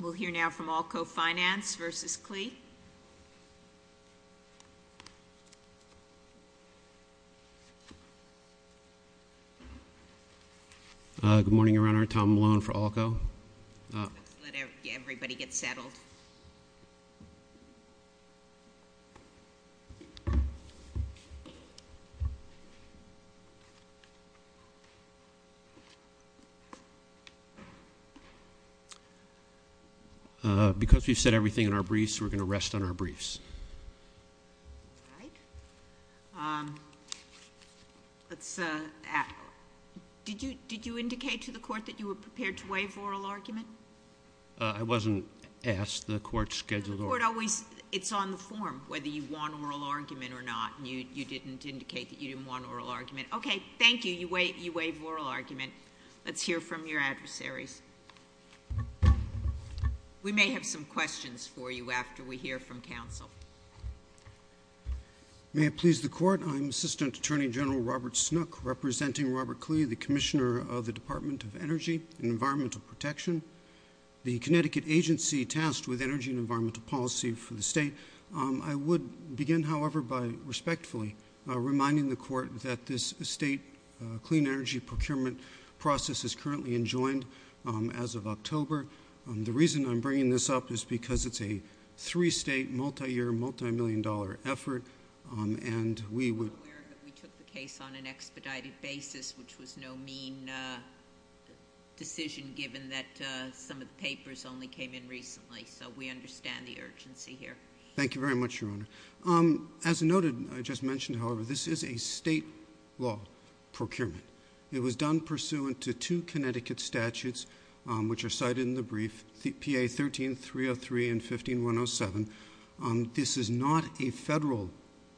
Good morning, Your Honor. Tom Malone for ALCO. Let's let everybody get settled. Because we've said everything in our briefs, we're going to rest on our briefs. Did you indicate to the Court that you were prepared to waive oral argument? I wasn't asked. The Court scheduled oral argument. The Court always, it's on the form whether you want oral argument or not. You didn't indicate that you didn't want oral argument. Okay, thank you. You waived oral argument. Let's hear from your adversaries. We may have some questions for you after we hear from counsel. May it please the Court. I'm Assistant Attorney General Robert Snook, representing Robert Klee, the Commissioner of the Department of Energy and Environmental Protection, the Connecticut agency tasked with energy and environmental policy for the state. I would begin, however, by respectfully reminding the Court that this state clean energy procurement process is currently enjoined as of October. The reason I'm bringing this up is because it's a three-state, multi-year, multi-million dollar effort. I'm aware that we took the case on an expedited basis, which was no mean decision given that some of the papers only came in recently. So we understand the urgency here. Thank you very much, Your Honor. As noted, I just mentioned, however, this is a state law procurement. It was done pursuant to two Connecticut statutes, which are cited in the brief, PA 13-303 and 15-107. This is not a federal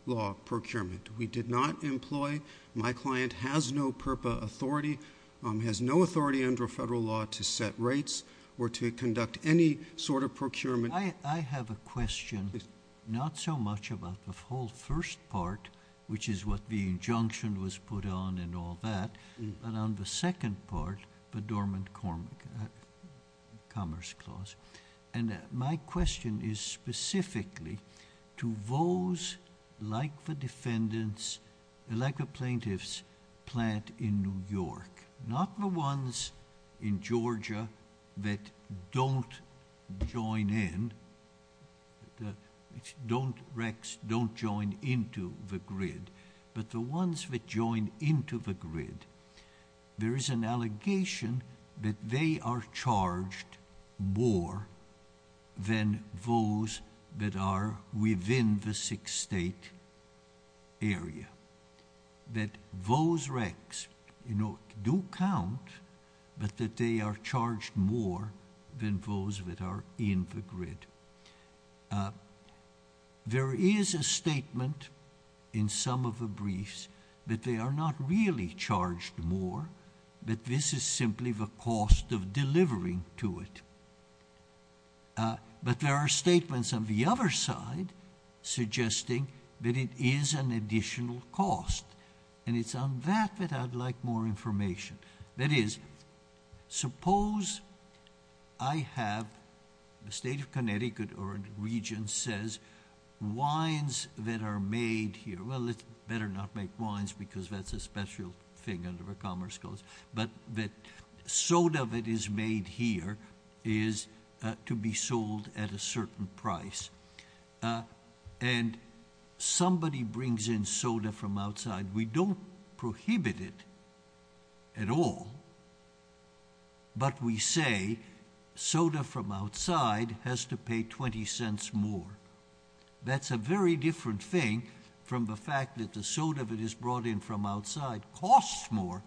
law procurement. We did not employ. My client has no PURPA authority, has no authority under federal law to set rates or to conduct any sort of procurement. I have a question, not so much about the whole first part, which is what the injunction was put on and all that, but on the second part, the Dormant Commerce Clause. My question is specifically to those like the plaintiffs' plant in New York, not the ones in Georgia that don't join in, don't join into the grid, but the ones that join into the grid. There is an allegation that they are charged more than those that are within the six-state area, that those ranks do count, but that they are charged more than those that are in the grid. There is a statement in some of the briefs that they are not really charged more, that this is simply the cost of delivering to it. But there are statements on the other side suggesting that it is an additional cost, and it's on that that I'd like more information. That is, suppose I have the state of Connecticut or a region says, wines that are made here. Well, let's better not make wines because that's a special thing under the Commerce Clause, but that soda that is made here is to be sold at a certain price, and somebody brings in soda from outside. We don't prohibit it at all, but we say soda from outside has to pay 20 cents more. That's a very different thing from the fact that the soda that is brought in from outside costs more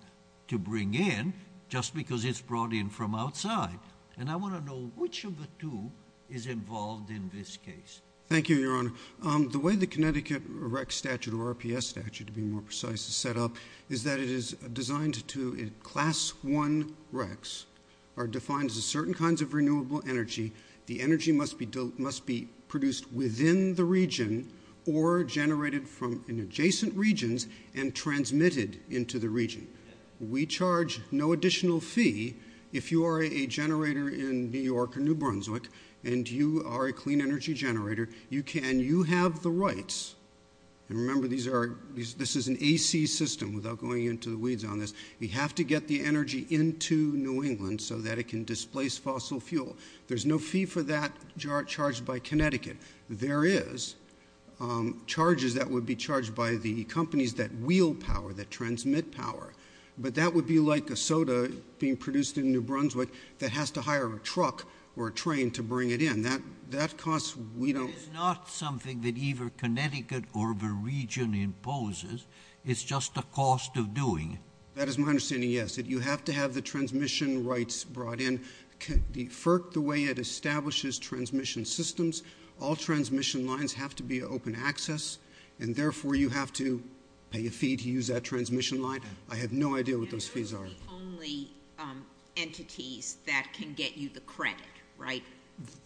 to bring in just because it's brought in from outside. And I want to know which of the two is involved in this case. Thank you, Your Honor. The way the Connecticut REC statute, or RPS statute to be more precise, is set up is that it is designed to, in Class I RECs, are defined as certain kinds of renewable energy. The energy must be produced within the region or generated from adjacent regions and transmitted into the region. We charge no additional fee. If you are a generator in New York or New Brunswick and you are a clean energy generator, you have the rights, and remember this is an AC system without going into the weeds on this, you have to get the energy into New England so that it can displace fossil fuel. There's no fee for that charged by Connecticut. There is charges that would be charged by the companies that wheel power, that transmit power, but that would be like a soda being produced in New Brunswick that has to hire a truck or a train to bring it in. It is not something that either Connecticut or the region imposes. It's just a cost of doing it. That is my understanding, yes. You have to have the transmission rights brought in. The way it establishes transmission systems, all transmission lines have to be open access, and therefore you have to pay a fee to use that transmission line. I have no idea what those fees are. And those are the only entities that can get you the credit, right?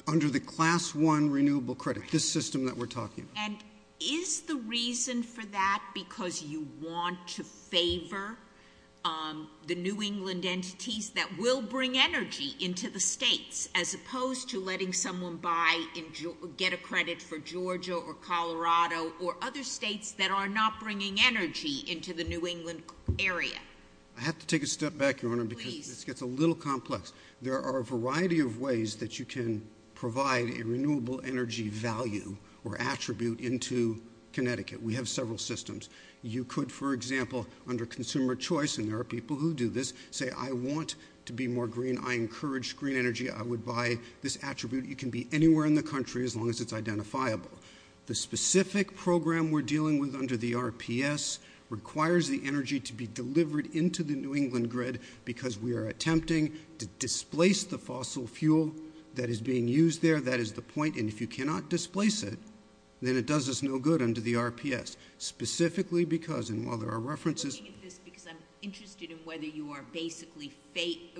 Under the class one renewable credit, this system that we're talking about. And is the reason for that because you want to favor the New England entities that will bring energy into the states as opposed to letting someone get a credit for Georgia or Colorado or other states that are not bringing energy into the New England area? I have to take a step back, Your Honor, because this gets a little complex. There are a variety of ways that you can provide a renewable energy value or attribute into Connecticut. We have several systems. You could, for example, under consumer choice, and there are people who do this, say I want to be more green. I encourage green energy. I would buy this attribute. It can be anywhere in the country as long as it's identifiable. The specific program we're dealing with under the RPS requires the energy to be delivered into the New England grid because we are attempting to displace the fossil fuel that is being used there. That is the point. And if you cannot displace it, then it does us no good under the RPS. Specifically because, and while there are references. I'm looking at this because I'm interested in whether you are basically,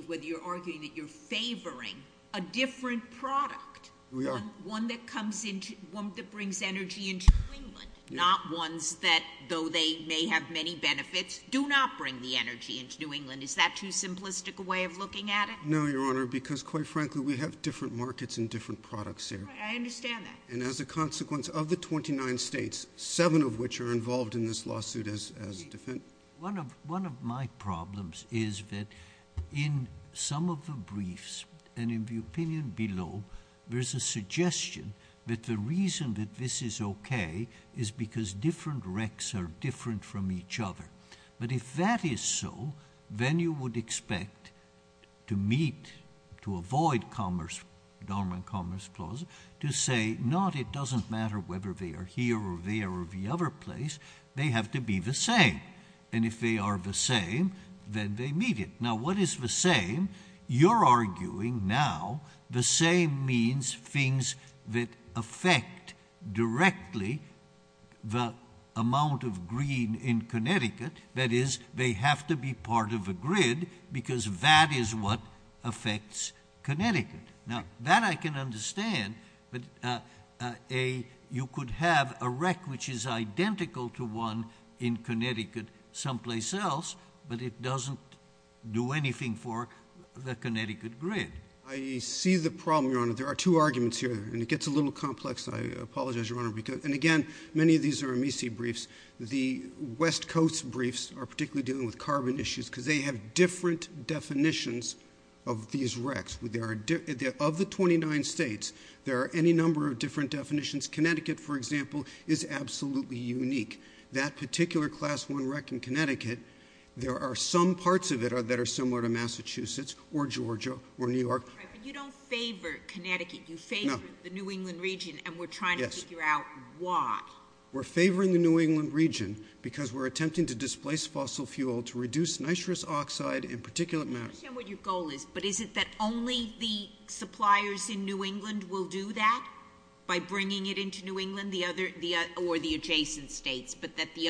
whether you're arguing that you're favoring a different product. We are. One that brings energy into England, not ones that, though they may have many benefits, do not bring the energy into New England. Is that too simplistic a way of looking at it? No, Your Honor, because quite frankly we have different markets and different products here. I understand that. And as a consequence of the 29 states, seven of which are involved in this lawsuit as a defendant. One of my problems is that in some of the briefs and in the opinion below, there's a suggestion that the reason that this is okay is because different recs are different from each other. But if that is so, then you would expect to meet, to avoid commerce, the Darwin Commerce Clause, to say not it doesn't matter whether they are here or there or the other place. They have to be the same. And if they are the same, then they meet it. Now what is the same? You're arguing now the same means things that affect directly the amount of green in Connecticut. That is, they have to be part of a grid because that is what affects Connecticut. Now that I can understand, but you could have a rec which is identical to one in Connecticut someplace else, but it doesn't do anything for the Connecticut grid. I see the problem, Your Honor. There are two arguments here, and it gets a little complex. I apologize, Your Honor, because, and again, many of these are MEC briefs. The West Coast briefs are particularly dealing with carbon issues because they have different definitions of these recs. Of the 29 states, there are any number of different definitions. Connecticut, for example, is absolutely unique. That particular Class I rec in Connecticut, there are some parts of it that are similar to Massachusetts or Georgia or New York. But you don't favor Connecticut. You favor the New England region, and we're trying to figure out why. We're favoring the New England region because we're attempting to displace fossil fuel to reduce nitrous oxide in particulate matter. I understand what your goal is, but is it that only the suppliers in New England will do that, by bringing it into New England or the adjacent states, but that the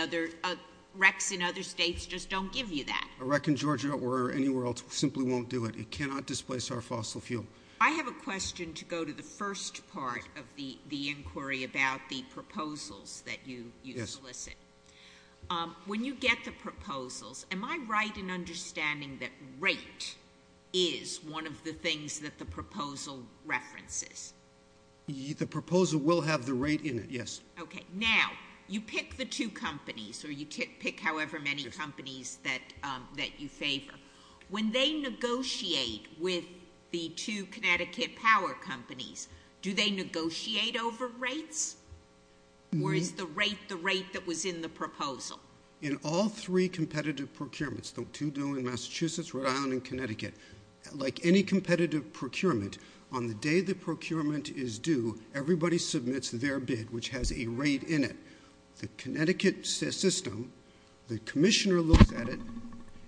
recs in other states just don't give you that? A rec in Georgia or anywhere else simply won't do it. It cannot displace our fossil fuel. I have a question to go to the first part of the inquiry about the proposals that you solicit. When you get the proposals, am I right in understanding that rate is one of the things that the proposal references? The proposal will have the rate in it, yes. Okay, now, you pick the two companies, or you pick however many companies that you favor. When they negotiate with the two Connecticut power companies, do they negotiate over rates? Or is the rate the rate that was in the proposal? In all three competitive procurements, the two doing Massachusetts, Rhode Island, and Connecticut, like any competitive procurement, on the day the procurement is due, everybody submits their bid, which has a rate in it. The Connecticut system, the commissioner looks at it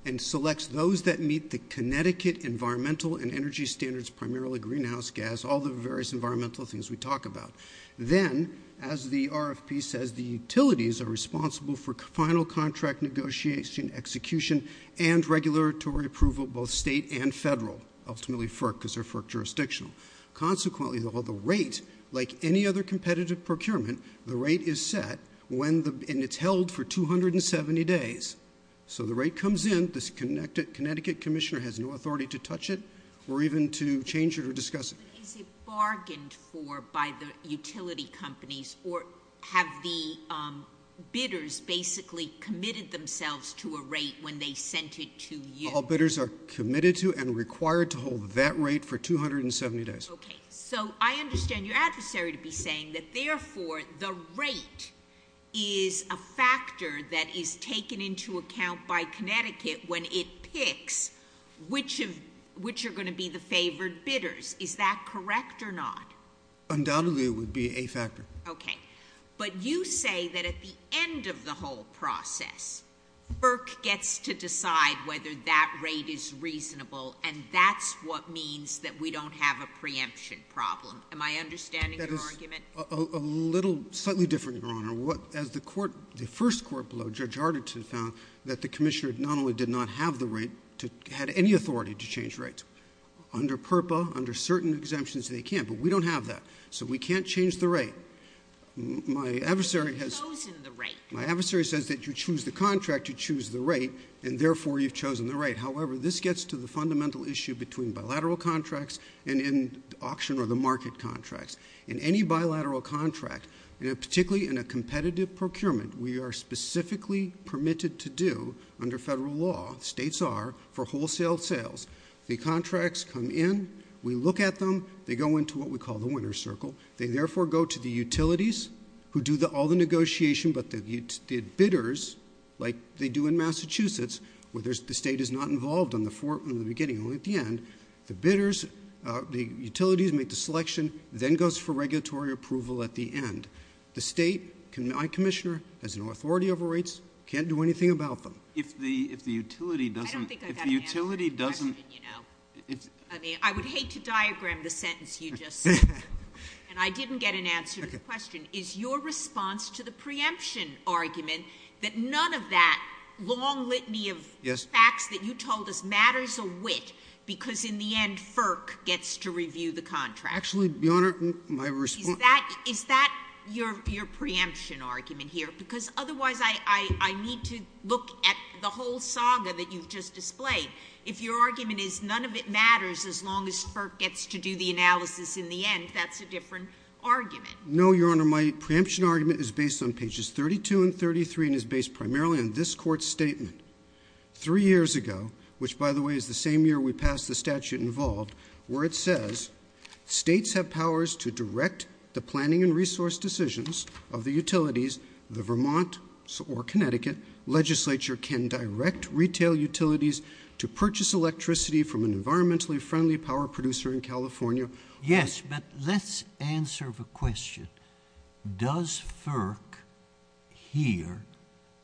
and selects those that meet the Connecticut environmental and energy standards, primarily greenhouse gas, all the various environmental things we talk about. Then, as the RFP says, the utilities are responsible for final contract negotiation, execution, and regulatory approval, both state and federal, ultimately FERC because they're FERC jurisdictional. Consequently, the rate, like any other competitive procurement, the rate is set, and it's held for 270 days. So the rate comes in. The Connecticut commissioner has no authority to touch it or even to change it or discuss it. Is it bargained for by the utility companies, or have the bidders basically committed themselves to a rate when they sent it to you? All bidders are committed to and required to hold that rate for 270 days. Okay. So I understand your adversary to be saying that, therefore, the rate is a factor that is taken into account by Connecticut when it picks which are going to be the favored bidders. Is that correct or not? Undoubtedly, it would be a factor. Okay. But you say that at the end of the whole process, FERC gets to decide whether that rate is reasonable, and that's what means that we don't have a preemption problem. Am I understanding your argument? That is a little slightly different, Your Honor. As the first court below, Judge Hardington found that the commissioner not only did not have the right, had any authority to change rates under PURPA, under certain exemptions they can, but we don't have that. So we can't change the rate. My adversary has chosen the rate. My adversary says that you choose the contract, you choose the rate, and, therefore, you've chosen the rate. However, this gets to the fundamental issue between bilateral contracts and in auction or the market contracts. In any bilateral contract, particularly in a competitive procurement, we are specifically permitted to do, under federal law, states are, for wholesale sales. The contracts come in. We look at them. They go into what we call the winner's circle. They, therefore, go to the utilities, who do all the negotiation, but the bidders, like they do in Massachusetts, where the state is not involved in the beginning, only at the end, the bidders, the utilities make the selection, then goes for regulatory approval at the end. The state, my commissioner, has no authority over rates, can't do anything about them. If the utility doesn't — I don't think I got an answer to the question, you know. I mean, I would hate to diagram the sentence you just said, and I didn't get an answer to the question. Is your response to the preemption argument that none of that long litany of facts that you told us matters a whit because, in the end, FERC gets to review the contract? Actually, Your Honor, my response — Is that your preemption argument here? Because, otherwise, I need to look at the whole saga that you've just displayed. If your argument is none of it matters as long as FERC gets to do the analysis in the end, that's a different argument. No, Your Honor. My preemption argument is based on pages 32 and 33 and is based primarily on this Court's statement. Three years ago, which, by the way, is the same year we passed the statute involved, where it says states have powers to direct the planning and resource decisions of the utilities. The Vermont or Connecticut legislature can direct retail utilities to purchase electricity from an environmentally friendly power producer in California. Yes, but let's answer the question. Does FERC here,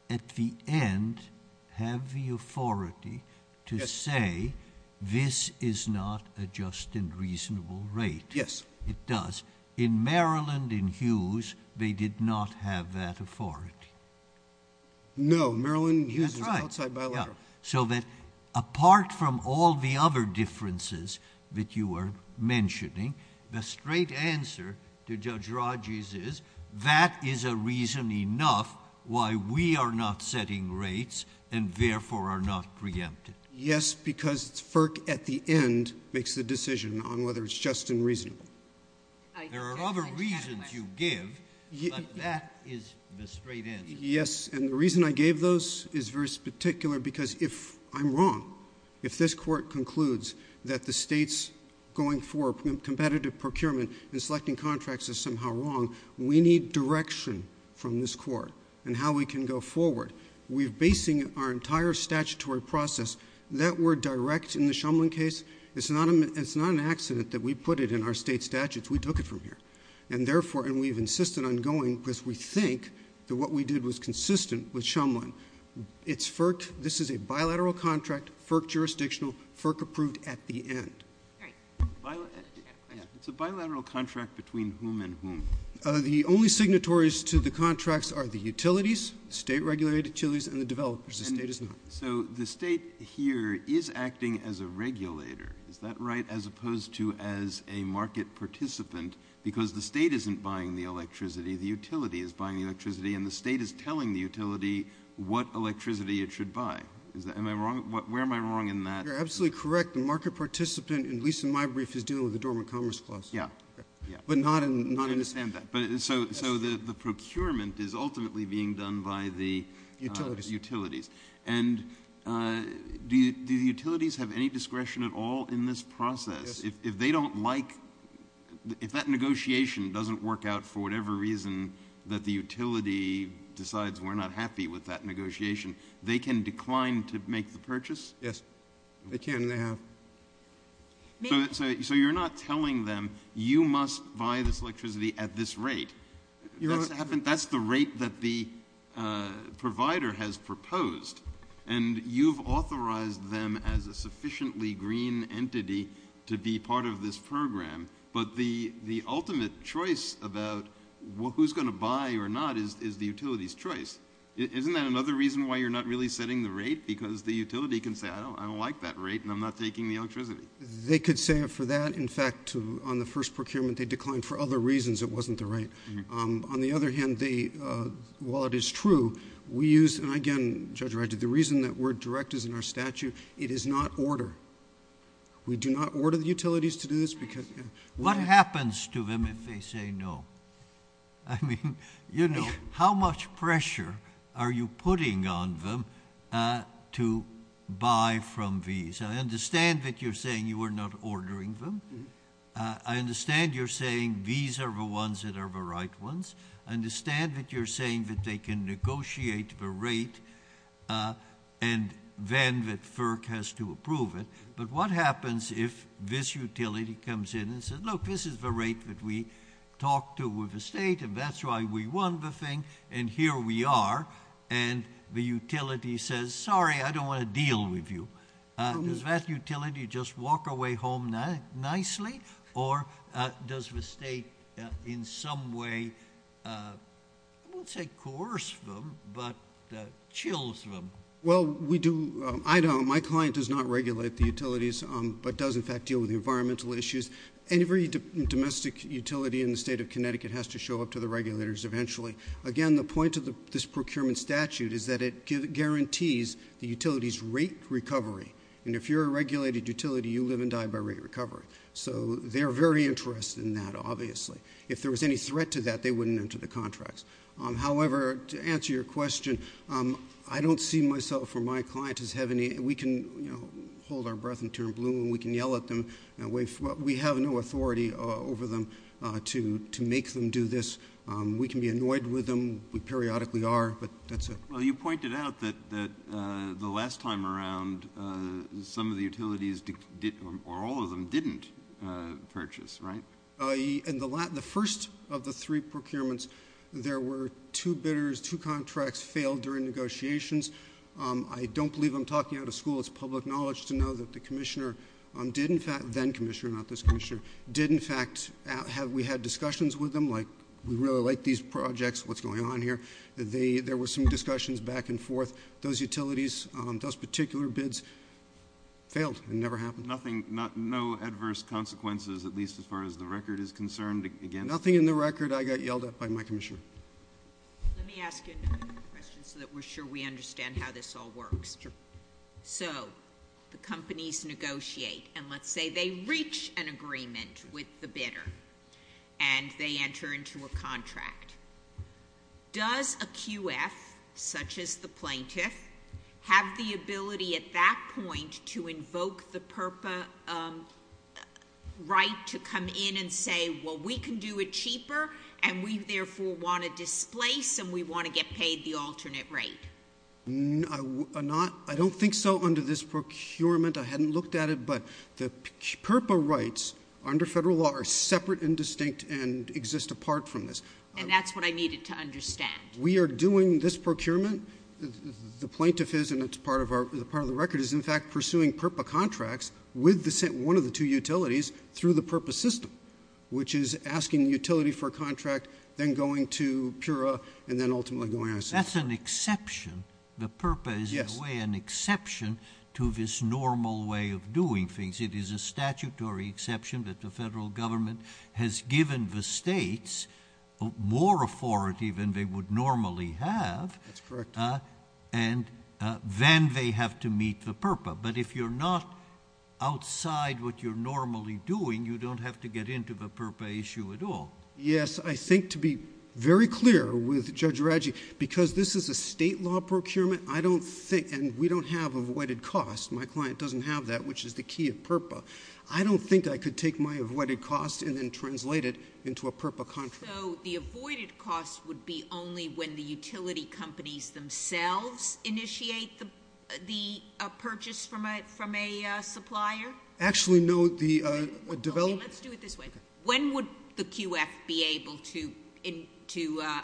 at the end, have the authority to say this is not a just and reasonable rate? Yes. It does. In Maryland and Hughes, they did not have that authority. No. Maryland and Hughes are outside bilateral. Apart from all the other differences that you are mentioning, the straight answer to Judge Rodgers is that is a reason enough why we are not setting rates and, therefore, are not preempted. Yes, because FERC, at the end, makes the decision on whether it's just and reasonable. There are other reasons you give, but that is the straight answer. Yes, and the reason I gave those is very particular because if I'm wrong, if this Court concludes that the state's going for competitive procurement and selecting contracts is somehow wrong, we need direction from this Court in how we can go forward. We're basing our entire statutory process. That word direct in the Shumlin case, it's not an accident that we put it in our state statutes. We took it from here. And, therefore, and we've insisted on going because we think that what we did was consistent with Shumlin. It's FERC. This is a bilateral contract, FERC jurisdictional, FERC approved at the end. It's a bilateral contract between whom and whom? The only signatories to the contracts are the utilities, state-regulated utilities, and the developers. The state is not. So the state here is acting as a regulator. Is that right? As opposed to as a market participant because the state isn't buying the electricity, the utility is buying the electricity, and the state is telling the utility what electricity it should buy. Am I wrong? Where am I wrong in that? You're absolutely correct. The market participant, at least in my brief, is dealing with the Dormant Commerce Clause. Yeah, yeah. But not in this case. I understand that. So the procurement is ultimately being done by the utilities. Utilities. And do the utilities have any discretion at all in this process? Yes. If they don't like, if that negotiation doesn't work out for whatever reason, that the utility decides we're not happy with that negotiation, they can decline to make the purchase? Yes, they can and they have. So you're not telling them you must buy this electricity at this rate. That's the rate that the provider has proposed, and you've authorized them as a sufficiently green entity to be part of this program. But the ultimate choice about who's going to buy or not is the utility's choice. Isn't that another reason why you're not really setting the rate? Because the utility can say, I don't like that rate and I'm not taking the electricity. They could say for that. In fact, on the first procurement they declined for other reasons it wasn't the rate. On the other hand, while it is true, we use, and again, Judge Wright, the reason that we're direct is in our statute, it is not order. We do not order the utilities to do this. What happens to them if they say no? I mean, you know, how much pressure are you putting on them to buy from these? I understand that you're saying you are not ordering them. I understand you're saying these are the ones that are the right ones. I understand that you're saying that they can negotiate the rate and then that FERC has to approve it. But what happens if this utility comes in and says, look, this is the rate that we talked to with the state, and that's why we won the thing, and here we are. And the utility says, sorry, I don't want to deal with you. Does that utility just walk away home nicely, or does the state in some way, I won't say coerce them, but chills them? Well, we do, I don't, my client does not regulate the utilities, but does, in fact, deal with the environmental issues. Every domestic utility in the state of Connecticut has to show up to the regulators eventually. Again, the point of this procurement statute is that it guarantees the utility's rate recovery. And if you're a regulated utility, you live and die by rate recovery. So they're very interested in that, obviously. If there was any threat to that, they wouldn't enter the contracts. However, to answer your question, I don't see myself or my client as having any, we can, you know, hold our breath and tear and bloom. We can yell at them. We have no authority over them to make them do this. We can be annoyed with them. We periodically are, but that's it. Well, you pointed out that the last time around, some of the utilities or all of them didn't purchase, right? In the first of the three procurements, there were two bidders, two contracts failed during negotiations. I don't believe I'm talking out of school. It's public knowledge to know that the commissioner did, in fact, then commissioner, not this commissioner, did, in fact, we had discussions with them, like we really like these projects, what's going on here. There were some discussions back and forth. Those utilities, those particular bids failed. It never happened. Nothing, no adverse consequences, at least as far as the record is concerned? Nothing in the record. I got yelled at by my commissioner. Let me ask another question so that we're sure we understand how this all works. Sure. So the companies negotiate, and let's say they reach an agreement with the bidder, and they enter into a contract. Does a QF, such as the plaintiff, have the ability at that point to invoke the PURPA right to come in and say, well, we can do it cheaper, and we therefore want to displace, and we want to get paid the alternate rate? I don't think so under this procurement. I hadn't looked at it, but the PURPA rights under federal law are separate and distinct and exist apart from this. And that's what I needed to understand. We are doing this procurement, the plaintiff is, and it's part of the record, is in fact pursuing PURPA contracts with one of the two utilities through the PURPA system, which is asking the utility for a contract, then going to PURPA, and then ultimately going out of system. That's an exception. The PURPA is in a way an exception to this normal way of doing things. It is a statutory exception that the federal government has given the states more authority than they would normally have. That's correct. And then they have to meet the PURPA. But if you're not outside what you're normally doing, you don't have to get into the PURPA issue at all. Yes. I think to be very clear with Judge Radji, because this is a state law procurement, I don't think, and we don't have avoided costs, my client doesn't have that, which is the key of PURPA, I don't think I could take my avoided costs and then translate it into a PURPA contract. So the avoided costs would be only when the utility companies themselves initiate the purchase from a supplier? Actually, no. Let's do it this way. When would the QF be able to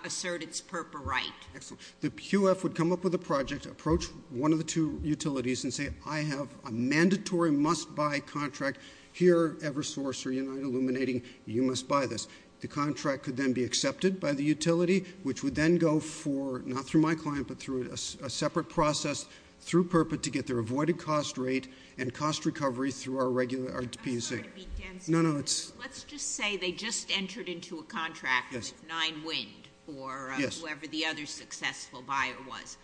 assert its PURPA right? Excellent. The QF would come up with a project, approach one of the two utilities and say, I have a mandatory must-buy contract here at Eversource or United Illuminating, you must buy this. The contract could then be accepted by the utility, which would then go for, not through my client, but through a separate process through PURPA to get their avoided cost rate and cost recovery through our PUC. Let's just say they just entered into a contract with Nine Wind or whoever the other successful buyer was.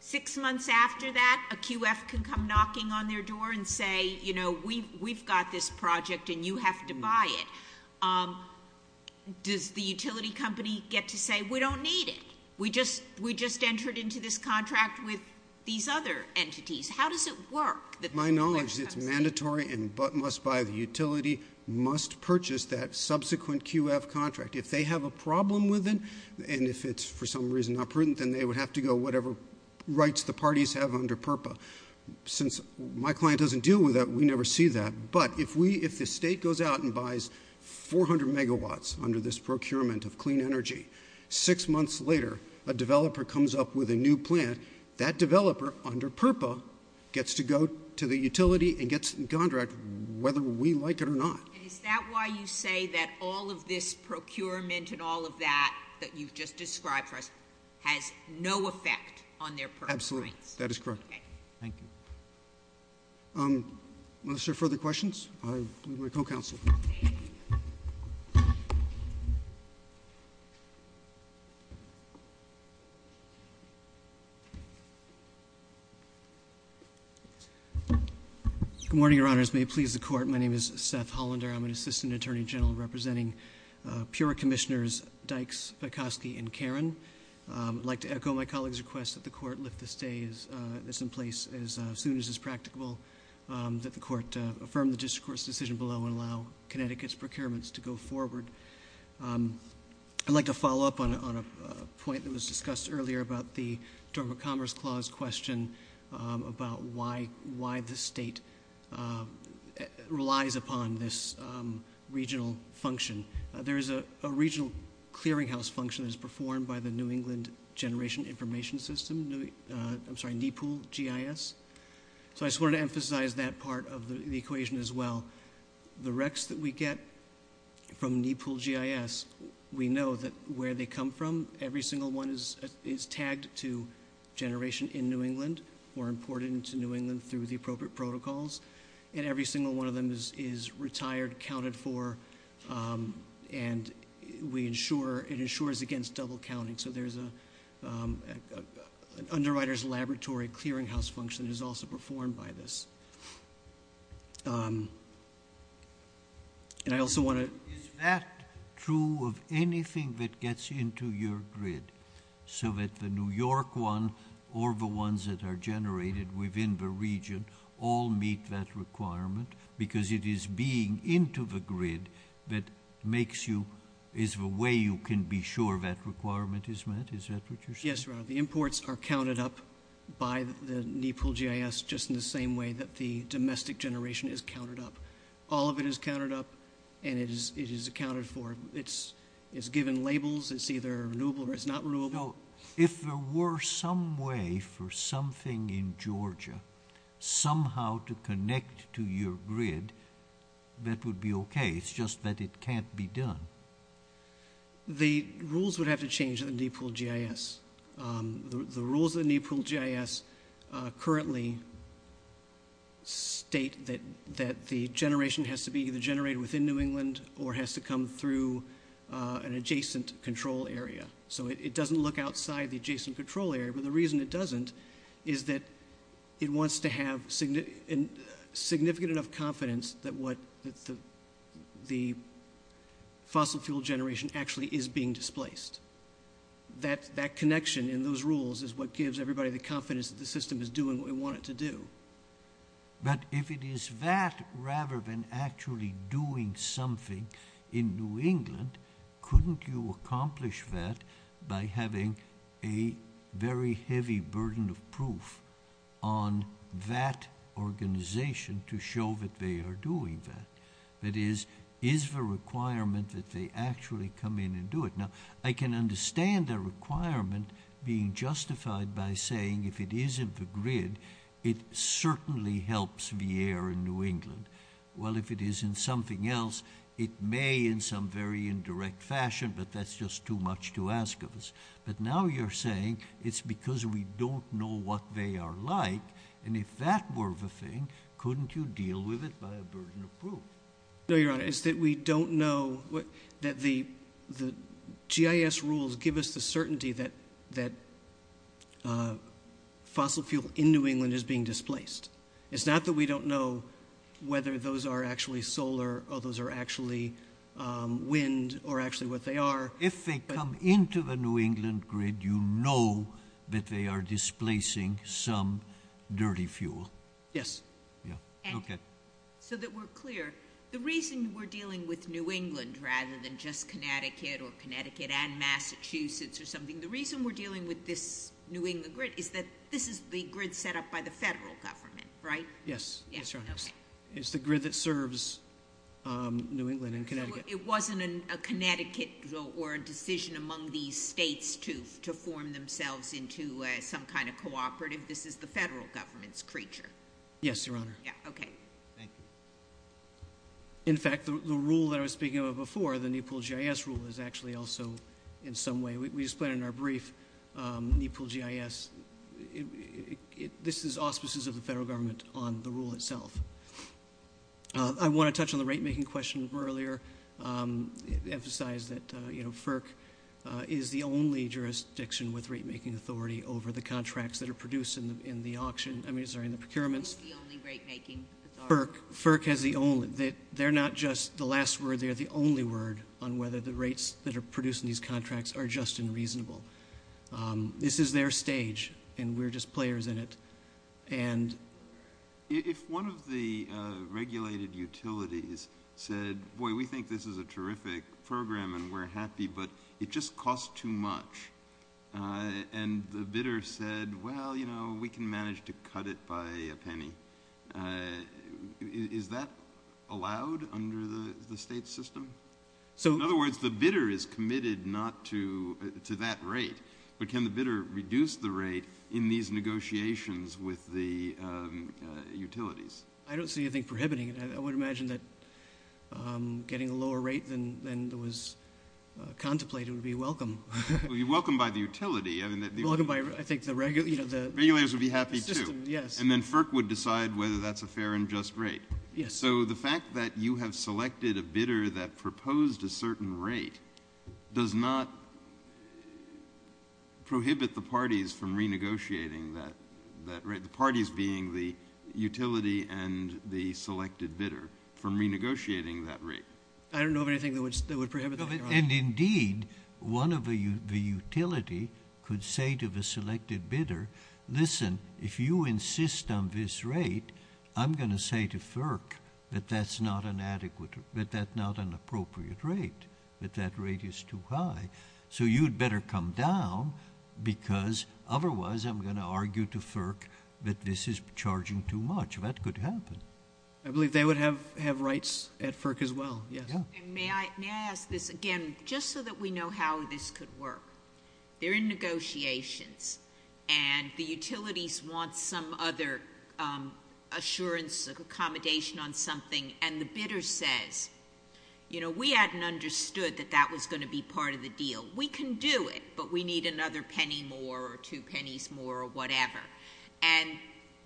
Six months after that, a QF can come knocking on their door and say, you know, we've got this project and you have to buy it. Does the utility company get to say, we don't need it, we just entered into this contract with these other entities. How does it work? My knowledge is it's mandatory and must-buy. The utility must purchase that subsequent QF contract. If they have a problem with it and if it's for some reason not prudent, then they would have to go whatever rights the parties have under PURPA. Since my client doesn't deal with that, we never see that. But if the state goes out and buys 400 megawatts under this procurement of clean energy, six months later a developer comes up with a new plant, that developer under PURPA gets to go to the utility and gets the contract whether we like it or not. Is that why you say that all of this procurement and all of that that you've just described for us has no effect on their PURPA rights? Absolutely. That is correct. Okay. Thank you. Unless there are further questions, I'll move to my co-counsel. Good morning, Your Honors. May it please the Court, my name is Seth Hollander. I'm an Assistant Attorney General representing Pura Commissioners Dykes, Pekoske, and Caron. I'd like to echo my colleague's request that the Court lift the stay that's in place as soon as it's practicable, that the Court affirm the District Court's decision below and allow Connecticut's procurements to go forward. I'd like to follow up on a point that was discussed earlier about the Dormant Commerce Clause question about why the state relies upon this regional function. There is a regional clearinghouse function that is performed by the New England Generation Information System, I'm sorry, NEPOOL GIS. So I just wanted to emphasize that part of the equation as well. The recs that we get from NEPOOL GIS, we know that where they come from, every single one is tagged to generation in New England or imported into New England through the appropriate protocols. And every single one of them is retired, counted for, and it ensures against double counting. So there's an underwriter's laboratory clearinghouse function that is also performed by this. And I also want to- Is that true of anything that gets into your grid? So that the New York one or the ones that are generated within the region all meet that requirement? Because it is being into the grid that makes you, is the way you can be sure that requirement is met? Is that what you're saying? Yes, Your Honor. The imports are counted up by the NEPOOL GIS just in the same way that the domestic generation is counted up. All of it is counted up and it is accounted for. It's given labels. It's either renewable or it's not renewable. If there were some way for something in Georgia somehow to connect to your grid, that would be okay. It's just that it can't be done. The rules would have to change in the NEPOOL GIS. The rules of the NEPOOL GIS currently state that the generation has to be either generated within New England or has to come through an adjacent control area. So it doesn't look outside the adjacent control area. But the reason it doesn't is that it wants to have significant enough confidence that the fossil fuel generation actually is being displaced. That connection in those rules is what gives everybody the confidence that the system is doing what we want it to do. But if it is that rather than actually doing something in New England, couldn't you accomplish that by having a very heavy burden of proof on that organization to show that they are doing that? That is, is the requirement that they actually come in and do it? Now, I can understand the requirement being justified by saying if it is in the grid, it certainly helps the air in New England. Well, if it is in something else, it may in some very indirect fashion, but that's just too much to ask of us. But now you're saying it's because we don't know what they are like. And if that were the thing, couldn't you deal with it by a burden of proof? No, Your Honor. It's that we don't know that the GIS rules give us the certainty that fossil fuel in New England is being displaced. It's not that we don't know whether those are actually solar or those are actually wind or actually what they are. If they come into the New England grid, you know that they are displacing some dirty fuel. Yes. Yeah. Okay. So that we're clear, the reason we're dealing with New England rather than just Connecticut or Connecticut and Massachusetts or something, the reason we're dealing with this New England grid is that this is the grid set up by the federal government, right? Yes. Yes, Your Honor. Okay. It's the grid that serves New England and Connecticut. So it wasn't a Connecticut or a decision among these states to form themselves into some kind of cooperative. This is the federal government's creature. Yes, Your Honor. Yeah. Okay. Thank you. In fact, the rule that I was speaking about before, the Nepal GIS rule, is actually also in some way. We just put it in our brief. Nepal GIS, this is auspices of the federal government on the rule itself. I want to touch on the rate-making question from earlier, emphasize that FERC is the only jurisdiction with rate-making authority over the contracts that are produced in the auction. I mean, sorry, in the procurements. FERC is the only rate-making authority. FERC has the only. They're not just the last word. They're the only word on whether the rates that are produced in these contracts are just and reasonable. This is their stage, and we're just players in it. And if one of the regulated utilities said, boy, we think this is a terrific program and we're happy, but it just costs too much, and the bidder said, well, you know, we can manage to cut it by a penny, is that allowed under the state system? In other words, the bidder is committed not to that rate, but can the bidder reduce the rate in these negotiations with the utilities? I don't see anything prohibiting it. I would imagine that getting a lower rate than was contemplated would be welcome. It would be welcomed by the utility. It would be welcomed by, I think, the regulators. Regulators would be happy, too. Yes. And then FERC would decide whether that's a fair and just rate. Yes. So the fact that you have selected a bidder that proposed a certain rate does not prohibit the parties from renegotiating that rate, the parties being the utility and the selected bidder from renegotiating that rate. I don't know of anything that would prohibit that. And, indeed, one of the utility could say to the selected bidder, listen, if you insist on this rate, I'm going to say to FERC that that's not an adequate, that that's not an appropriate rate, that that rate is too high. So you'd better come down because otherwise I'm going to argue to FERC that this is charging too much. That could happen. I believe they would have rights at FERC as well. Yes. May I ask this again just so that we know how this could work? They're in negotiations, and the utilities want some other assurance of accommodation on something, and the bidder says, you know, we hadn't understood that that was going to be part of the deal. We can do it, but we need another penny more or two pennies more or whatever. And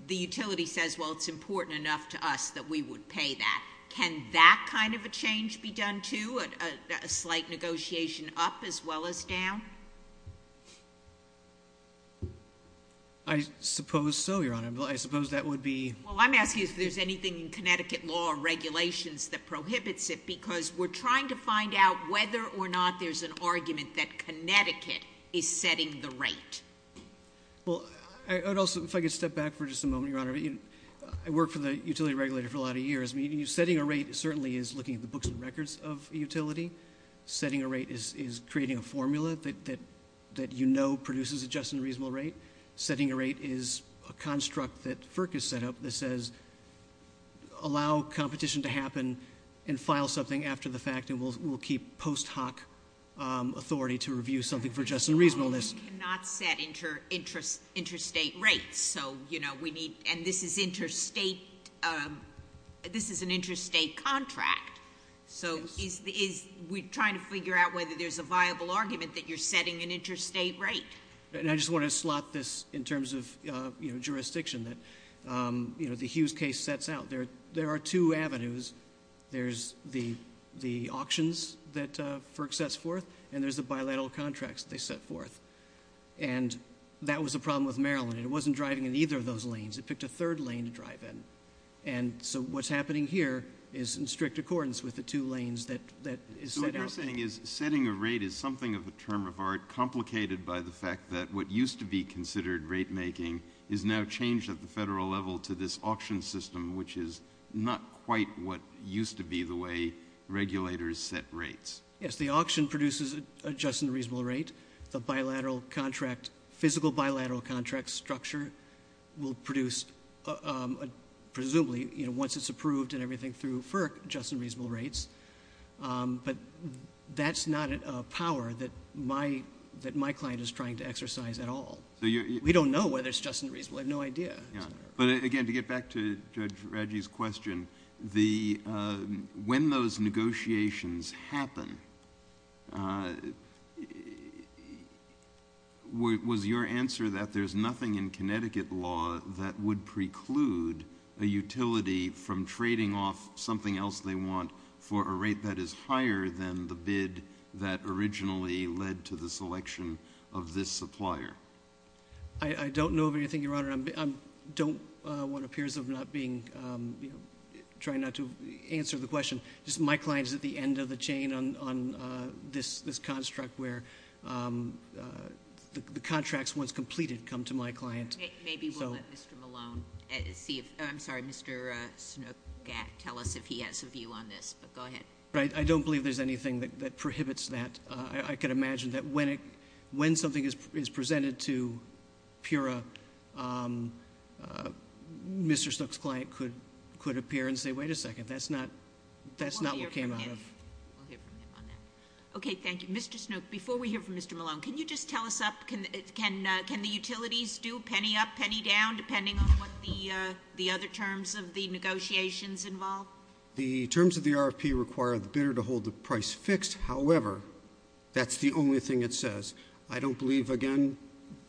the utility says, well, it's important enough to us that we would pay that. Can that kind of a change be done, too, a slight negotiation up as well as down? I suppose so, Your Honor. I suppose that would be. Well, I'm asking if there's anything in Connecticut law or regulations that prohibits it because we're trying to find out whether or not there's an argument that Connecticut is setting the rate. Well, I would also, if I could step back for just a moment, Your Honor. I worked for the utility regulator for a lot of years. I mean, setting a rate certainly is looking at the books and records of a utility. Setting a rate is creating a formula that you know produces a just and reasonable rate. Setting a rate is a construct that FERC has set up that says allow competition to happen and file something after the fact and we'll keep post hoc authority to review something for just and reasonableness. We cannot set interstate rates. And this is an interstate contract. So we're trying to figure out whether there's a viable argument that you're setting an interstate rate. And I just want to slot this in terms of jurisdiction that the Hughes case sets out. There are two avenues. There's the auctions that FERC sets forth and there's the bilateral contracts they set forth. And that was a problem with Maryland. It wasn't driving in either of those lanes. It picked a third lane to drive in. And so what's happening here is in strict accordance with the two lanes that is set out. So what you're saying is setting a rate is something of a term of art complicated by the fact that what used to be considered rate making is now changed at the federal level to this auction system which is not quite what used to be the way regulators set rates. Yes, the auction produces a just and reasonable rate. The physical bilateral contract structure will produce presumably once it's approved and everything through FERC just and reasonable rates. But that's not a power that my client is trying to exercise at all. We don't know whether it's just and reasonable. We have no idea. But, again, to get back to Judge Radji's question, when those negotiations happen, was your answer that there's nothing in Connecticut law that would preclude a utility from trading off something else they want for a rate that is higher than the bid that originally led to the selection of this supplier? I'm trying not to answer the question. My client is at the end of the chain on this construct where the contracts, once completed, come to my client. Maybe we'll let Mr. Malone see. I'm sorry, Mr. Snook tell us if he has a view on this. But go ahead. I don't believe there's anything that prohibits that. I can imagine that when something is presented to Pura, Mr. Snook's client could appear and say, wait a second, that's not what came out of. We'll hear from him on that. Okay, thank you. Mr. Snook, before we hear from Mr. Malone, can you just tell us, can the utilities do penny up, penny down, depending on what the other terms of the negotiations involve? The terms of the RFP require the bidder to hold the price fixed. However, that's the only thing it says. I don't believe, again,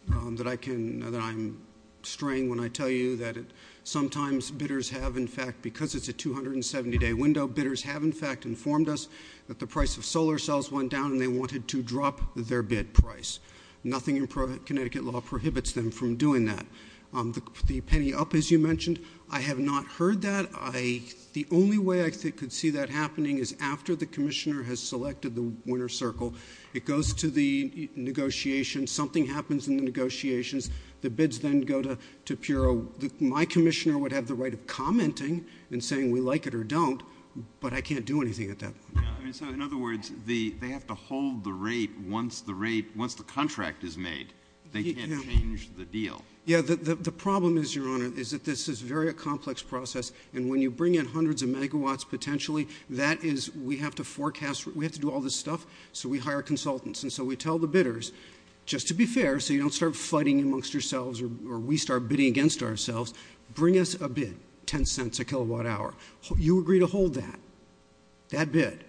that I'm straying when I tell you that sometimes bidders have, in fact, because it's a 270-day window, bidders have, in fact, informed us that the price of solar cells went down and they wanted to drop their bid price. Nothing in Connecticut law prohibits them from doing that. The penny up, as you mentioned, I have not heard that. The only way I could see that happening is after the commissioner has selected the winner's circle. It goes to the negotiations. Something happens in the negotiations. The bids then go to Pura. My commissioner would have the right of commenting and saying we like it or don't, but I can't do anything at that point. In other words, they have to hold the rate once the rate, once the contract is made. They can't change the deal. Yeah, the problem is, Your Honor, is that this is very a complex process, and when you bring in hundreds of megawatts potentially, that is, we have to forecast. We have to do all this stuff, so we hire consultants, and so we tell the bidders, just to be fair, so you don't start fighting amongst yourselves or we start bidding against ourselves, bring us a bid, $0.10 a kilowatt hour. You agree to hold that, that bid,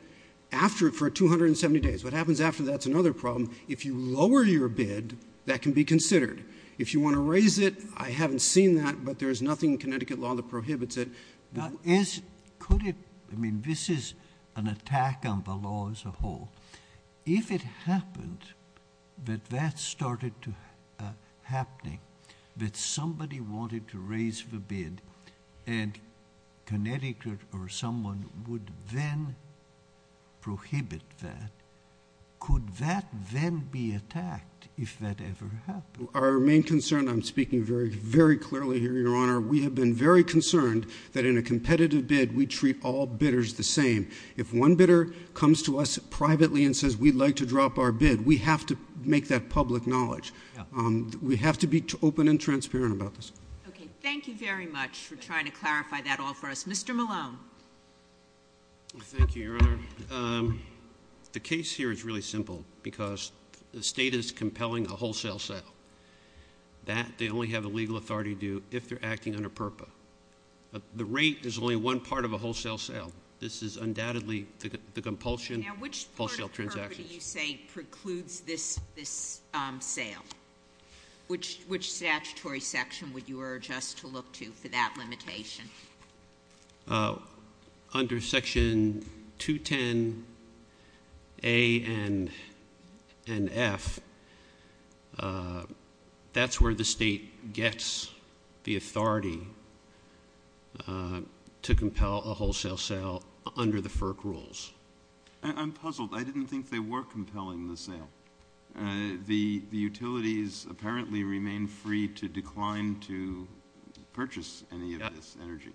after, for 270 days. What happens after that's another problem. If you lower your bid, that can be considered. If you want to raise it, I haven't seen that, but there's nothing in Connecticut law that prohibits it. Could it, I mean, this is an attack on the law as a whole. If it happened that that started happening, that somebody wanted to raise the bid, and Connecticut or someone would then prohibit that, could that then be attacked if that ever happened? Our main concern, I'm speaking very, very clearly here, Your Honor, we have been very concerned that in a competitive bid, we treat all bidders the same. If one bidder comes to us privately and says, we'd like to drop our bid, we have to make that public knowledge. We have to be open and transparent about this. Okay, thank you very much for trying to clarify that all for us. Mr. Malone. Thank you, Your Honor. The case here is really simple, because the state is compelling a wholesale sale. That, they only have the legal authority to do if they're acting under PURPA. The rate is only one part of a wholesale sale. This is undoubtedly the compulsion of wholesale transactions. Now, which part of PURPA do you say precludes this sale? Which statutory section would you urge us to look to for that limitation? Under Section 210A and F, that's where the state gets the authority to compel a wholesale sale under the FERC rules. I'm puzzled. I didn't think they were compelling the sale. The utilities apparently remain free to decline to purchase any of this energy.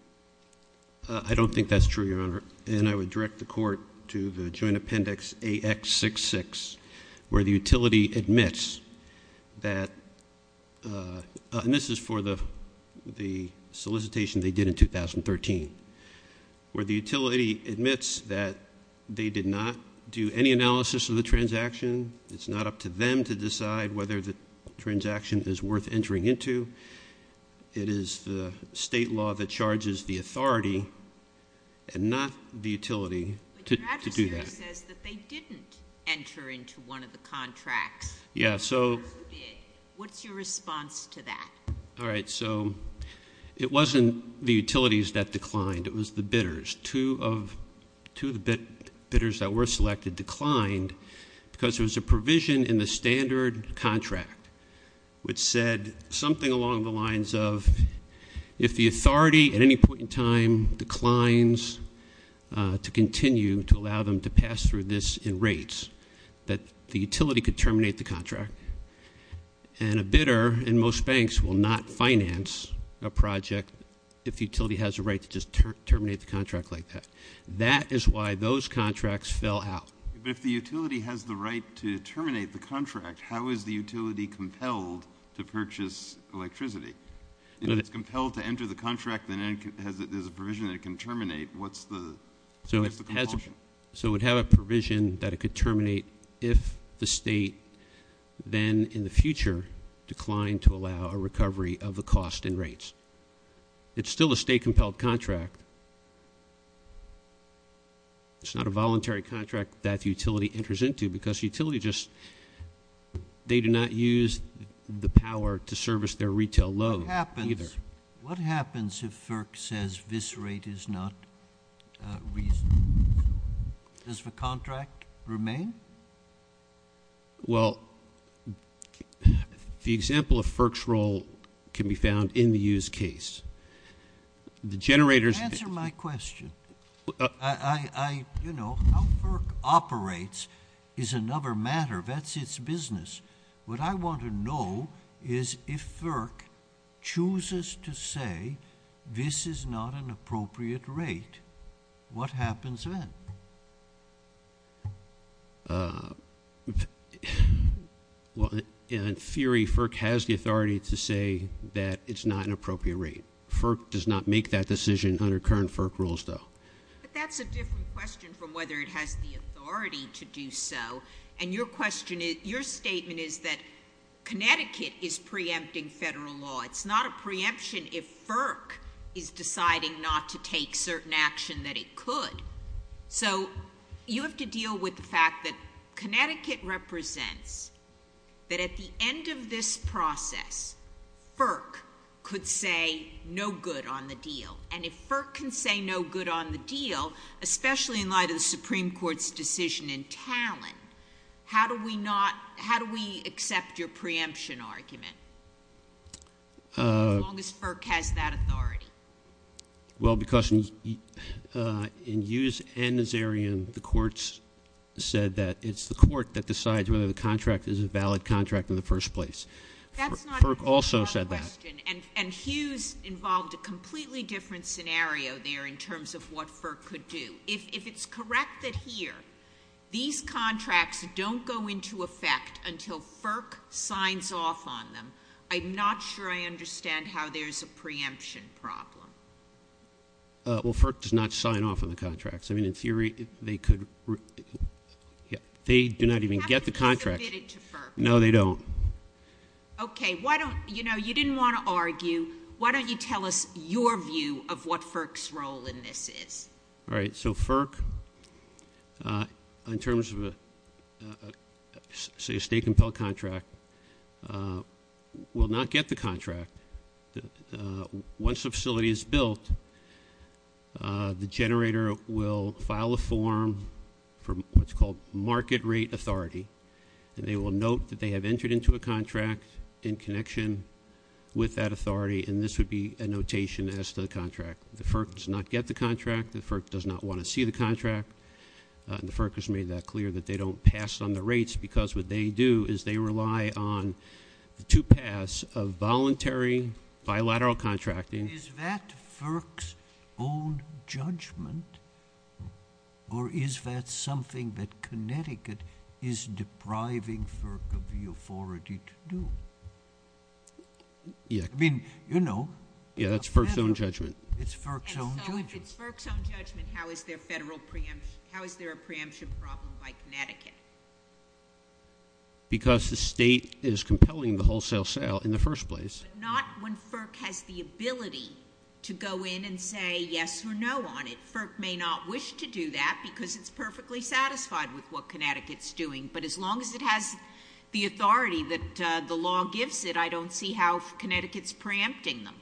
I don't think that's true, Your Honor. And I would direct the Court to the Joint Appendix AX66, where the utility admits that, and this is for the solicitation they did in 2013, where the utility admits that they did not do any analysis of the transaction. It's not up to them to decide whether the transaction is worth entering into. It is the state law that charges the authority, and not the utility, to do that. But the registry says that they didn't enter into one of the contracts. Yeah, so. Or who did? What's your response to that? All right, so it wasn't the utilities that declined. It was the bidders. Two of the bidders that were selected declined because there was a provision in the standard contract which said something along the lines of if the authority, at any point in time, declines to continue to allow them to pass through this in rates, that the utility could terminate the contract. And a bidder in most banks will not finance a project if the utility has a right to just terminate the contract like that. That is why those contracts fell out. But if the utility has the right to terminate the contract, how is the utility compelled to purchase electricity? If it's compelled to enter the contract, then there's a provision that it can terminate. What's the compulsion? So it would have a provision that it could terminate if the state then, in the future, declined to allow a recovery of the cost in rates. It's still a state-compelled contract. It's not a voluntary contract that the utility enters into because utility just, they do not use the power to service their retail load either. Yes. What happens if FERC says this rate is not reasonable? Does the contract remain? Well, the example of FERC's role can be found in the use case. The generators can be found. Answer my question. I, you know, how FERC operates is another matter. That's its business. What I want to know is if FERC chooses to say this is not an appropriate rate, what happens then? Well, in theory, FERC has the authority to say that it's not an appropriate rate. FERC does not make that decision under current FERC rules, though. But that's a different question from whether it has the authority to do so. And your question is, your statement is that Connecticut is preempting federal law. It's not a preemption if FERC is deciding not to take certain action that it could. So you have to deal with the fact that Connecticut represents that at the end of this process, FERC could say no good on the deal. And if FERC can say no good on the deal, especially in light of the Supreme Court's decision in Talon, how do we not, how do we accept your preemption argument as long as FERC has that authority? Well, because in Hughes and Nazarian, the courts said that it's the court that decides whether the contract is a valid contract in the first place. FERC also said that. That's a different question. And Hughes involved a completely different scenario there in terms of what FERC could do. If it's correct that here, these contracts don't go into effect until FERC signs off on them, I'm not sure I understand how there's a preemption problem. Well, FERC does not sign off on the contracts. I mean, in theory, they could. They do not even get the contract. No, they don't. Okay. Why don't, you know, you didn't want to argue. Why don't you tell us your view of what FERC's role in this is? All right. So FERC, in terms of, say, a state-compelled contract, will not get the contract. Once the facility is built, the generator will file a form for what's called market rate authority, and they will note that they have entered into a contract in connection with that authority, and this would be a notation as to the contract. The FERC does not get the contract. The FERC does not want to see the contract. And the FERC has made that clear, that they don't pass on the rates, because what they do is they rely on the two paths of voluntary bilateral contracting. Is that FERC's own judgment, or is that something that Connecticut is depriving FERC of the authority to do? Yeah. I mean, you know. Yeah, that's FERC's own judgment. It's FERC's own judgment. If it's FERC's own judgment, how is there a federal preemption? How is there a preemption problem by Connecticut? Because the state is compelling the wholesale sale in the first place. But not when FERC has the ability to go in and say yes or no on it. FERC may not wish to do that because it's perfectly satisfied with what Connecticut's doing, but as long as it has the authority that the law gives it, I don't see how Connecticut's preempting them.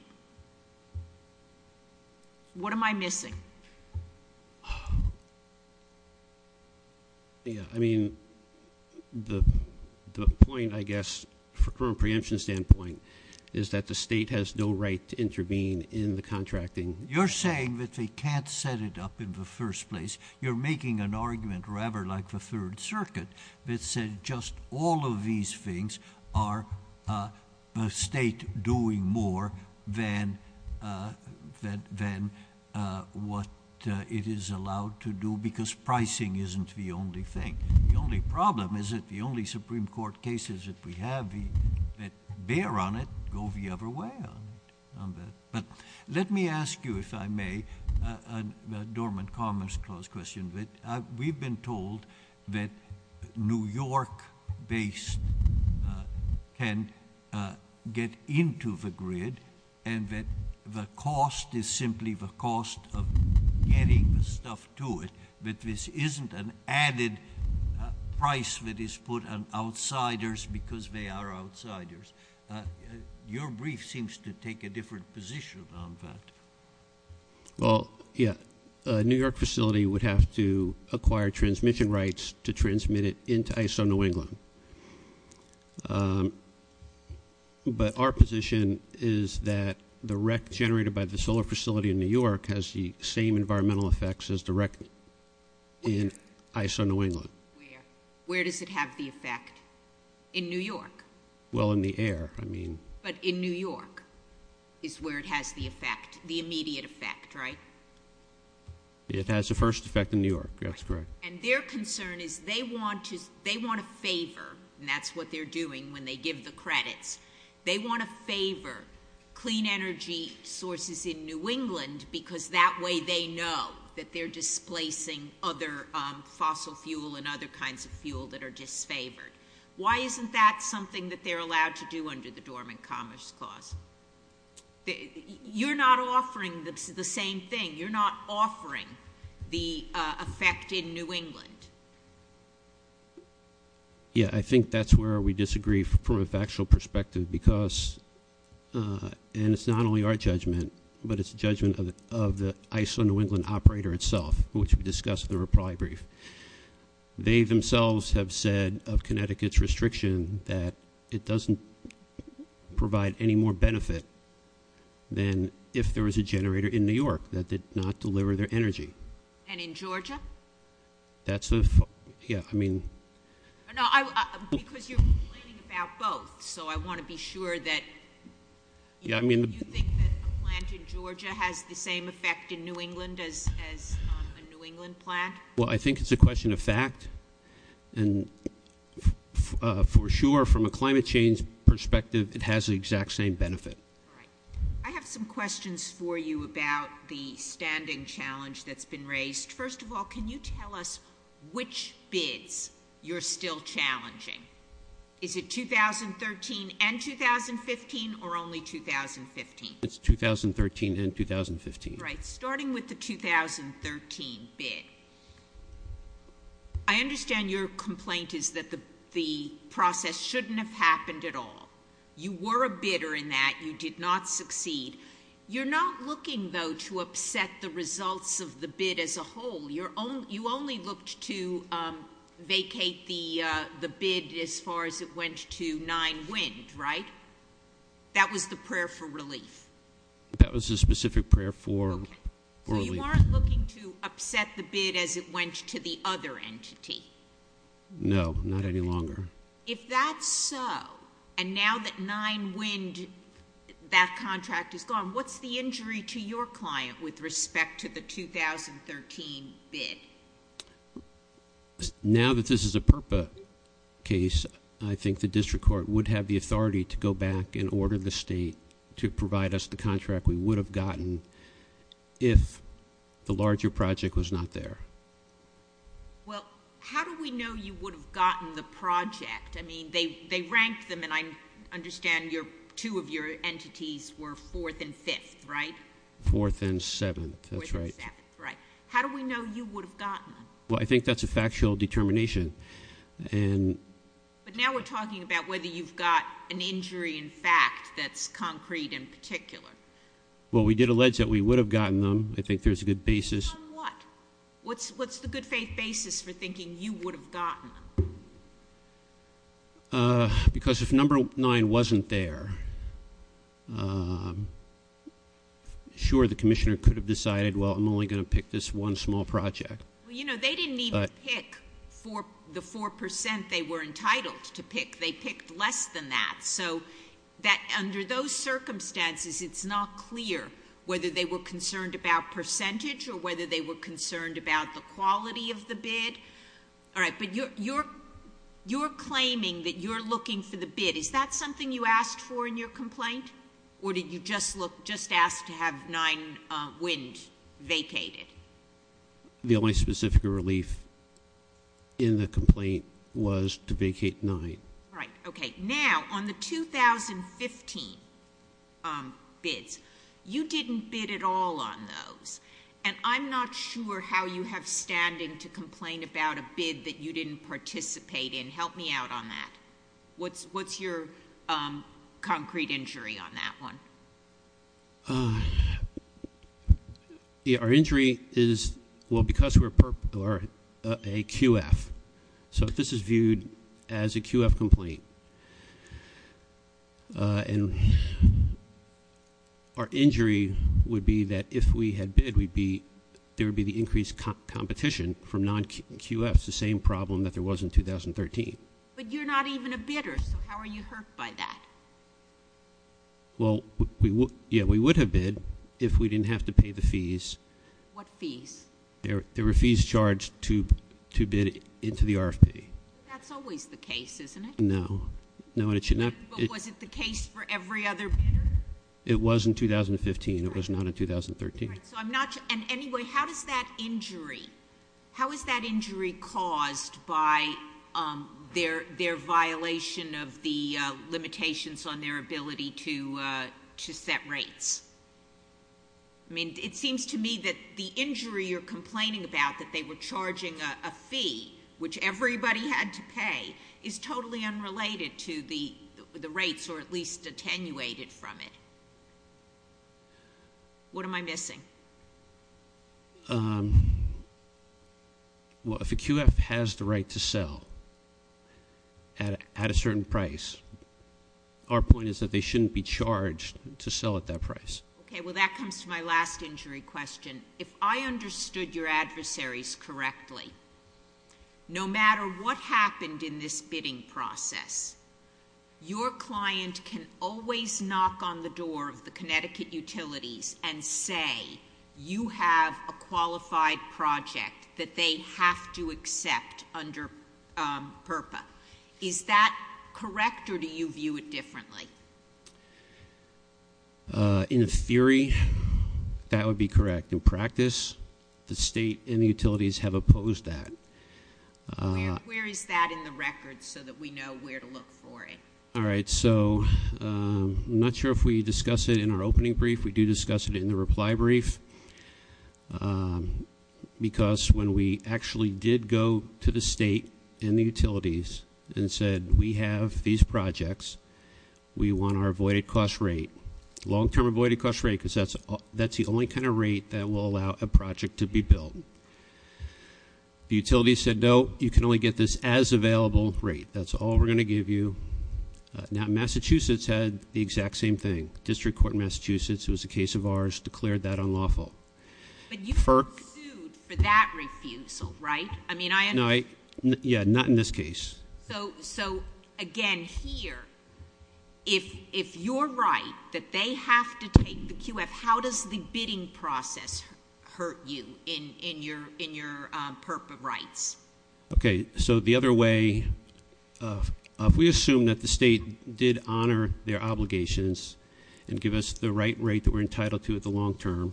What am I missing? Yeah. I mean, the point, I guess, from a preemption standpoint, is that the state has no right to intervene in the contracting. You're saying that they can't set it up in the first place. You're making an argument, rather like the Third Circuit, that said just all of these things are the state doing more than what it is allowed to do because pricing isn't the only thing. The only problem is that the only Supreme Court cases that we have that bear on it go the other way on that. But let me ask you, if I may, a dormant commerce clause question. We've been told that New York-based can get into the grid, and that the cost is simply the cost of getting the stuff to it, but this isn't an added price that is put on outsiders because they are outsiders. Your brief seems to take a different position on that. Well, yeah. A New York facility would have to acquire transmission rights to transmit it into ISO New England. But our position is that the wreck generated by the solar facility in New York has the same environmental effects as the wreck in ISO New England. Where? Where does it have the effect? In New York. Well, in the air, I mean. But in New York is where it has the effect, the immediate effect, right? It has the first effect in New York, that's correct. And their concern is they want to favor, and that's what they're doing when they give the credits, they want to favor clean energy sources in New England because that way they know that they're displacing other fossil fuel and other kinds of fuel that are disfavored. Why isn't that something that they're allowed to do under the Dormant Commerce Clause? You're not offering the same thing. You're not offering the effect in New England. Yeah, I think that's where we disagree from a factual perspective because, and it's not only our judgment, but it's the judgment of the ISO New England operator itself, which we discussed in the reply brief. They themselves have said, of Connecticut's restriction, that it doesn't provide any more benefit than if there was a generator in New York that did not deliver their energy. And in Georgia? That's the, yeah, I mean. Because you're complaining about both, so I want to be sure that, you think that a plant in Georgia has the same effect in New England as a New England plant? Well, I think it's a question of fact. And for sure, from a climate change perspective, it has the exact same benefit. All right. I have some questions for you about the standing challenge that's been raised. First of all, can you tell us which bids you're still challenging? Is it 2013 and 2015 or only 2015? It's 2013 and 2015. Right, starting with the 2013 bid. I understand your complaint is that the process shouldn't have happened at all. You were a bidder in that. You did not succeed. You're not looking, though, to upset the results of the bid as a whole. You only looked to vacate the bid as far as it went to Nine Wind, right? That was the prayer for relief. That was a specific prayer for relief. So you weren't looking to upset the bid as it went to the other entity? No, not any longer. If that's so, and now that Nine Wind, that contract is gone, what's the injury to your client with respect to the 2013 bid? Now that this is a PURPA case, I think the district court would have the authority to go back and order the state to provide us the contract we would have gotten if the larger project was not there. Well, how do we know you would have gotten the project? I mean, they ranked them, and I understand two of your entities were fourth and fifth, right? Fourth and seventh, that's right. Fourth and seventh, right. How do we know you would have gotten them? Well, I think that's a factual determination. But now we're talking about whether you've got an injury in fact that's concrete in particular. Well, we did allege that we would have gotten them. I think there's a good basis. On what? What's the good faith basis for thinking you would have gotten them? Because if number nine wasn't there, sure, the commissioner could have decided, well, I'm only going to pick this one small project. Well, you know, they didn't even pick the 4% they were entitled to pick. They picked less than that. So under those circumstances, it's not clear whether they were concerned about percentage or whether they were concerned about the quality of the bid. All right, but you're claiming that you're looking for the bid. Is that something you asked for in your complaint? Or did you just ask to have nine wind vacated? The only specific relief in the complaint was to vacate nine. All right, okay. Now, on the 2015 bids, you didn't bid at all on those. And I'm not sure how you have standing to complain about a bid that you didn't participate in. Help me out on that. What's your concrete injury on that one? Our injury is, well, because we're a QF. So this is viewed as a QF complaint. And our injury would be that if we had bid, there would be the increased competition from non-QFs, the same problem that there was in 2013. But you're not even a bidder, so how are you hurt by that? Well, yeah, we would have bid if we didn't have to pay the fees. What fees? There were fees charged to bid into the RFP. That's always the case, isn't it? No. But was it the case for every other bidder? It was in 2015. It was not in 2013. And anyway, how is that injury caused by their violation of the limitations on their ability to set rates? I mean, it seems to me that the injury you're complaining about, that they were charging a fee, which everybody had to pay, is totally unrelated to the rates, or at least attenuated from it. What am I missing? Well, if a QF has the right to sell at a certain price, our point is that they shouldn't be charged to sell at that price. Okay. Well, that comes to my last injury question. If I understood your adversaries correctly, no matter what happened in this bidding process, your client can always knock on the door of the Connecticut utilities and say you have a qualified project that they have to accept under PURPA. Is that correct, or do you view it differently? In theory, that would be correct. In practice, the state and the utilities have opposed that. Where is that in the record so that we know where to look for it? All right, so I'm not sure if we discussed it in our opening brief. We do discuss it in the reply brief, because when we actually did go to the state and the utilities and said, we have these projects, we want our avoided cost rate, long-term avoided cost rate, because that's the only kind of rate that will allow a project to be built. The utilities said, no, you can only get this as available rate. That's all we're going to give you. Now, Massachusetts had the exact same thing. District Court in Massachusetts, it was a case of ours, declared that unlawful. But you haven't sued for that refusal, right? Yeah, not in this case. So, again, here, if you're right that they have to take the QF, how does the bidding process hurt you in your perp rights? Okay, so the other way, if we assume that the state did honor their obligations and give us the right rate that we're entitled to at the long term,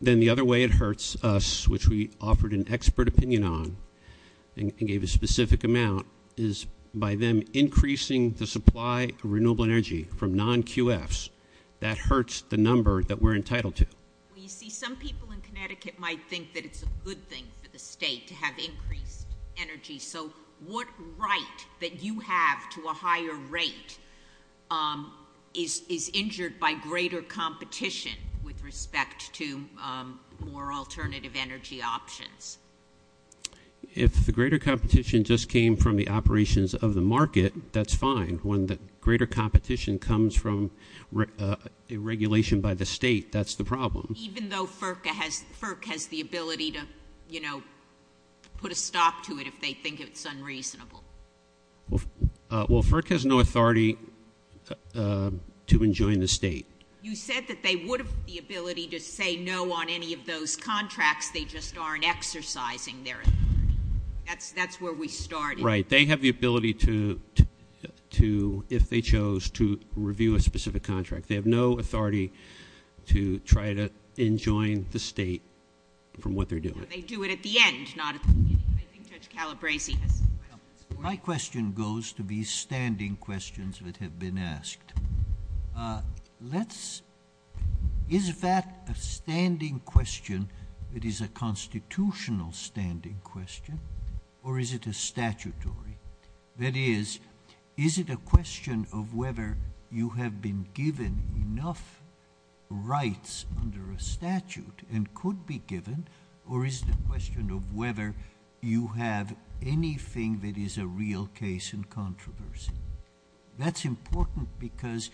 then the other way it hurts us, which we offered an expert opinion on and gave a specific amount, is by them increasing the supply of renewable energy from non-QFs. That hurts the number that we're entitled to. Well, you see, some people in Connecticut might think that it's a good thing for the state to have increased energy. So what right that you have to a higher rate is injured by greater competition with respect to more alternative energy options? If the greater competition just came from the operations of the market, that's fine. When the greater competition comes from a regulation by the state, that's the problem. Even though FERC has the ability to, you know, put a stop to it if they think it's unreasonable? Well, FERC has no authority to enjoin the state. You said that they would have the ability to say no on any of those contracts. They just aren't exercising their authority. That's where we started. Right. They have the ability to, if they chose, to review a specific contract. They have no authority to try to enjoin the state from what they're doing. They do it at the end, not at the beginning. I think Judge Calabresi has some questions for you. My question goes to these standing questions that have been asked. Is that a standing question that is a constitutional standing question, or is it a statutory? That is, is it a question of whether you have been given enough rights under a statute and could be given, or is it a question of whether you have anything that is a real case in controversy? That's important because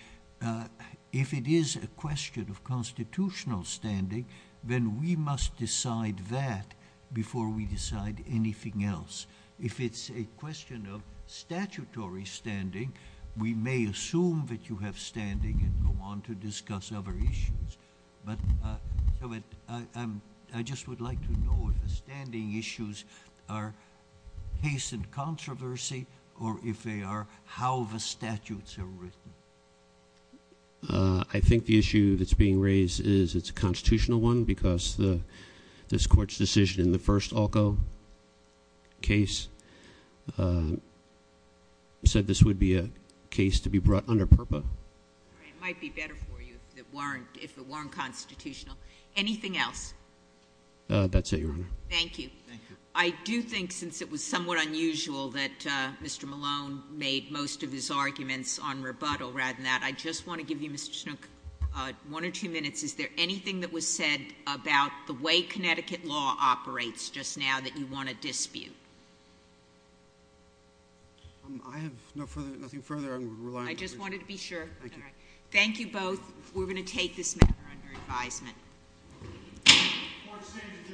if it is a question of constitutional standing, then we must decide that before we decide anything else. If it's a question of statutory standing, we may assume that you have standing and go on to discuss other issues. But I just would like to know if the standing issues are case in controversy, or if they are how the statutes are written. I think the issue that's being raised is it's a constitutional one because this Court's decision in the first ALCO case said this would be a case to be brought under PURPA. It might be better for you if it weren't constitutional. Anything else? That's it, Your Honor. Thank you. Thank you. I do think since it was somewhat unusual that Mr. Malone made most of his arguments on rebuttal rather than that, I just want to give you, Mr. Schnook, one or two minutes. Is there anything that was said about the way Connecticut law operates just now that you want to dispute? I have nothing further I'm relying on. I just wanted to be sure. Thank you. Thank you both. We're going to take this matter under advisement. The Court stands adjourned.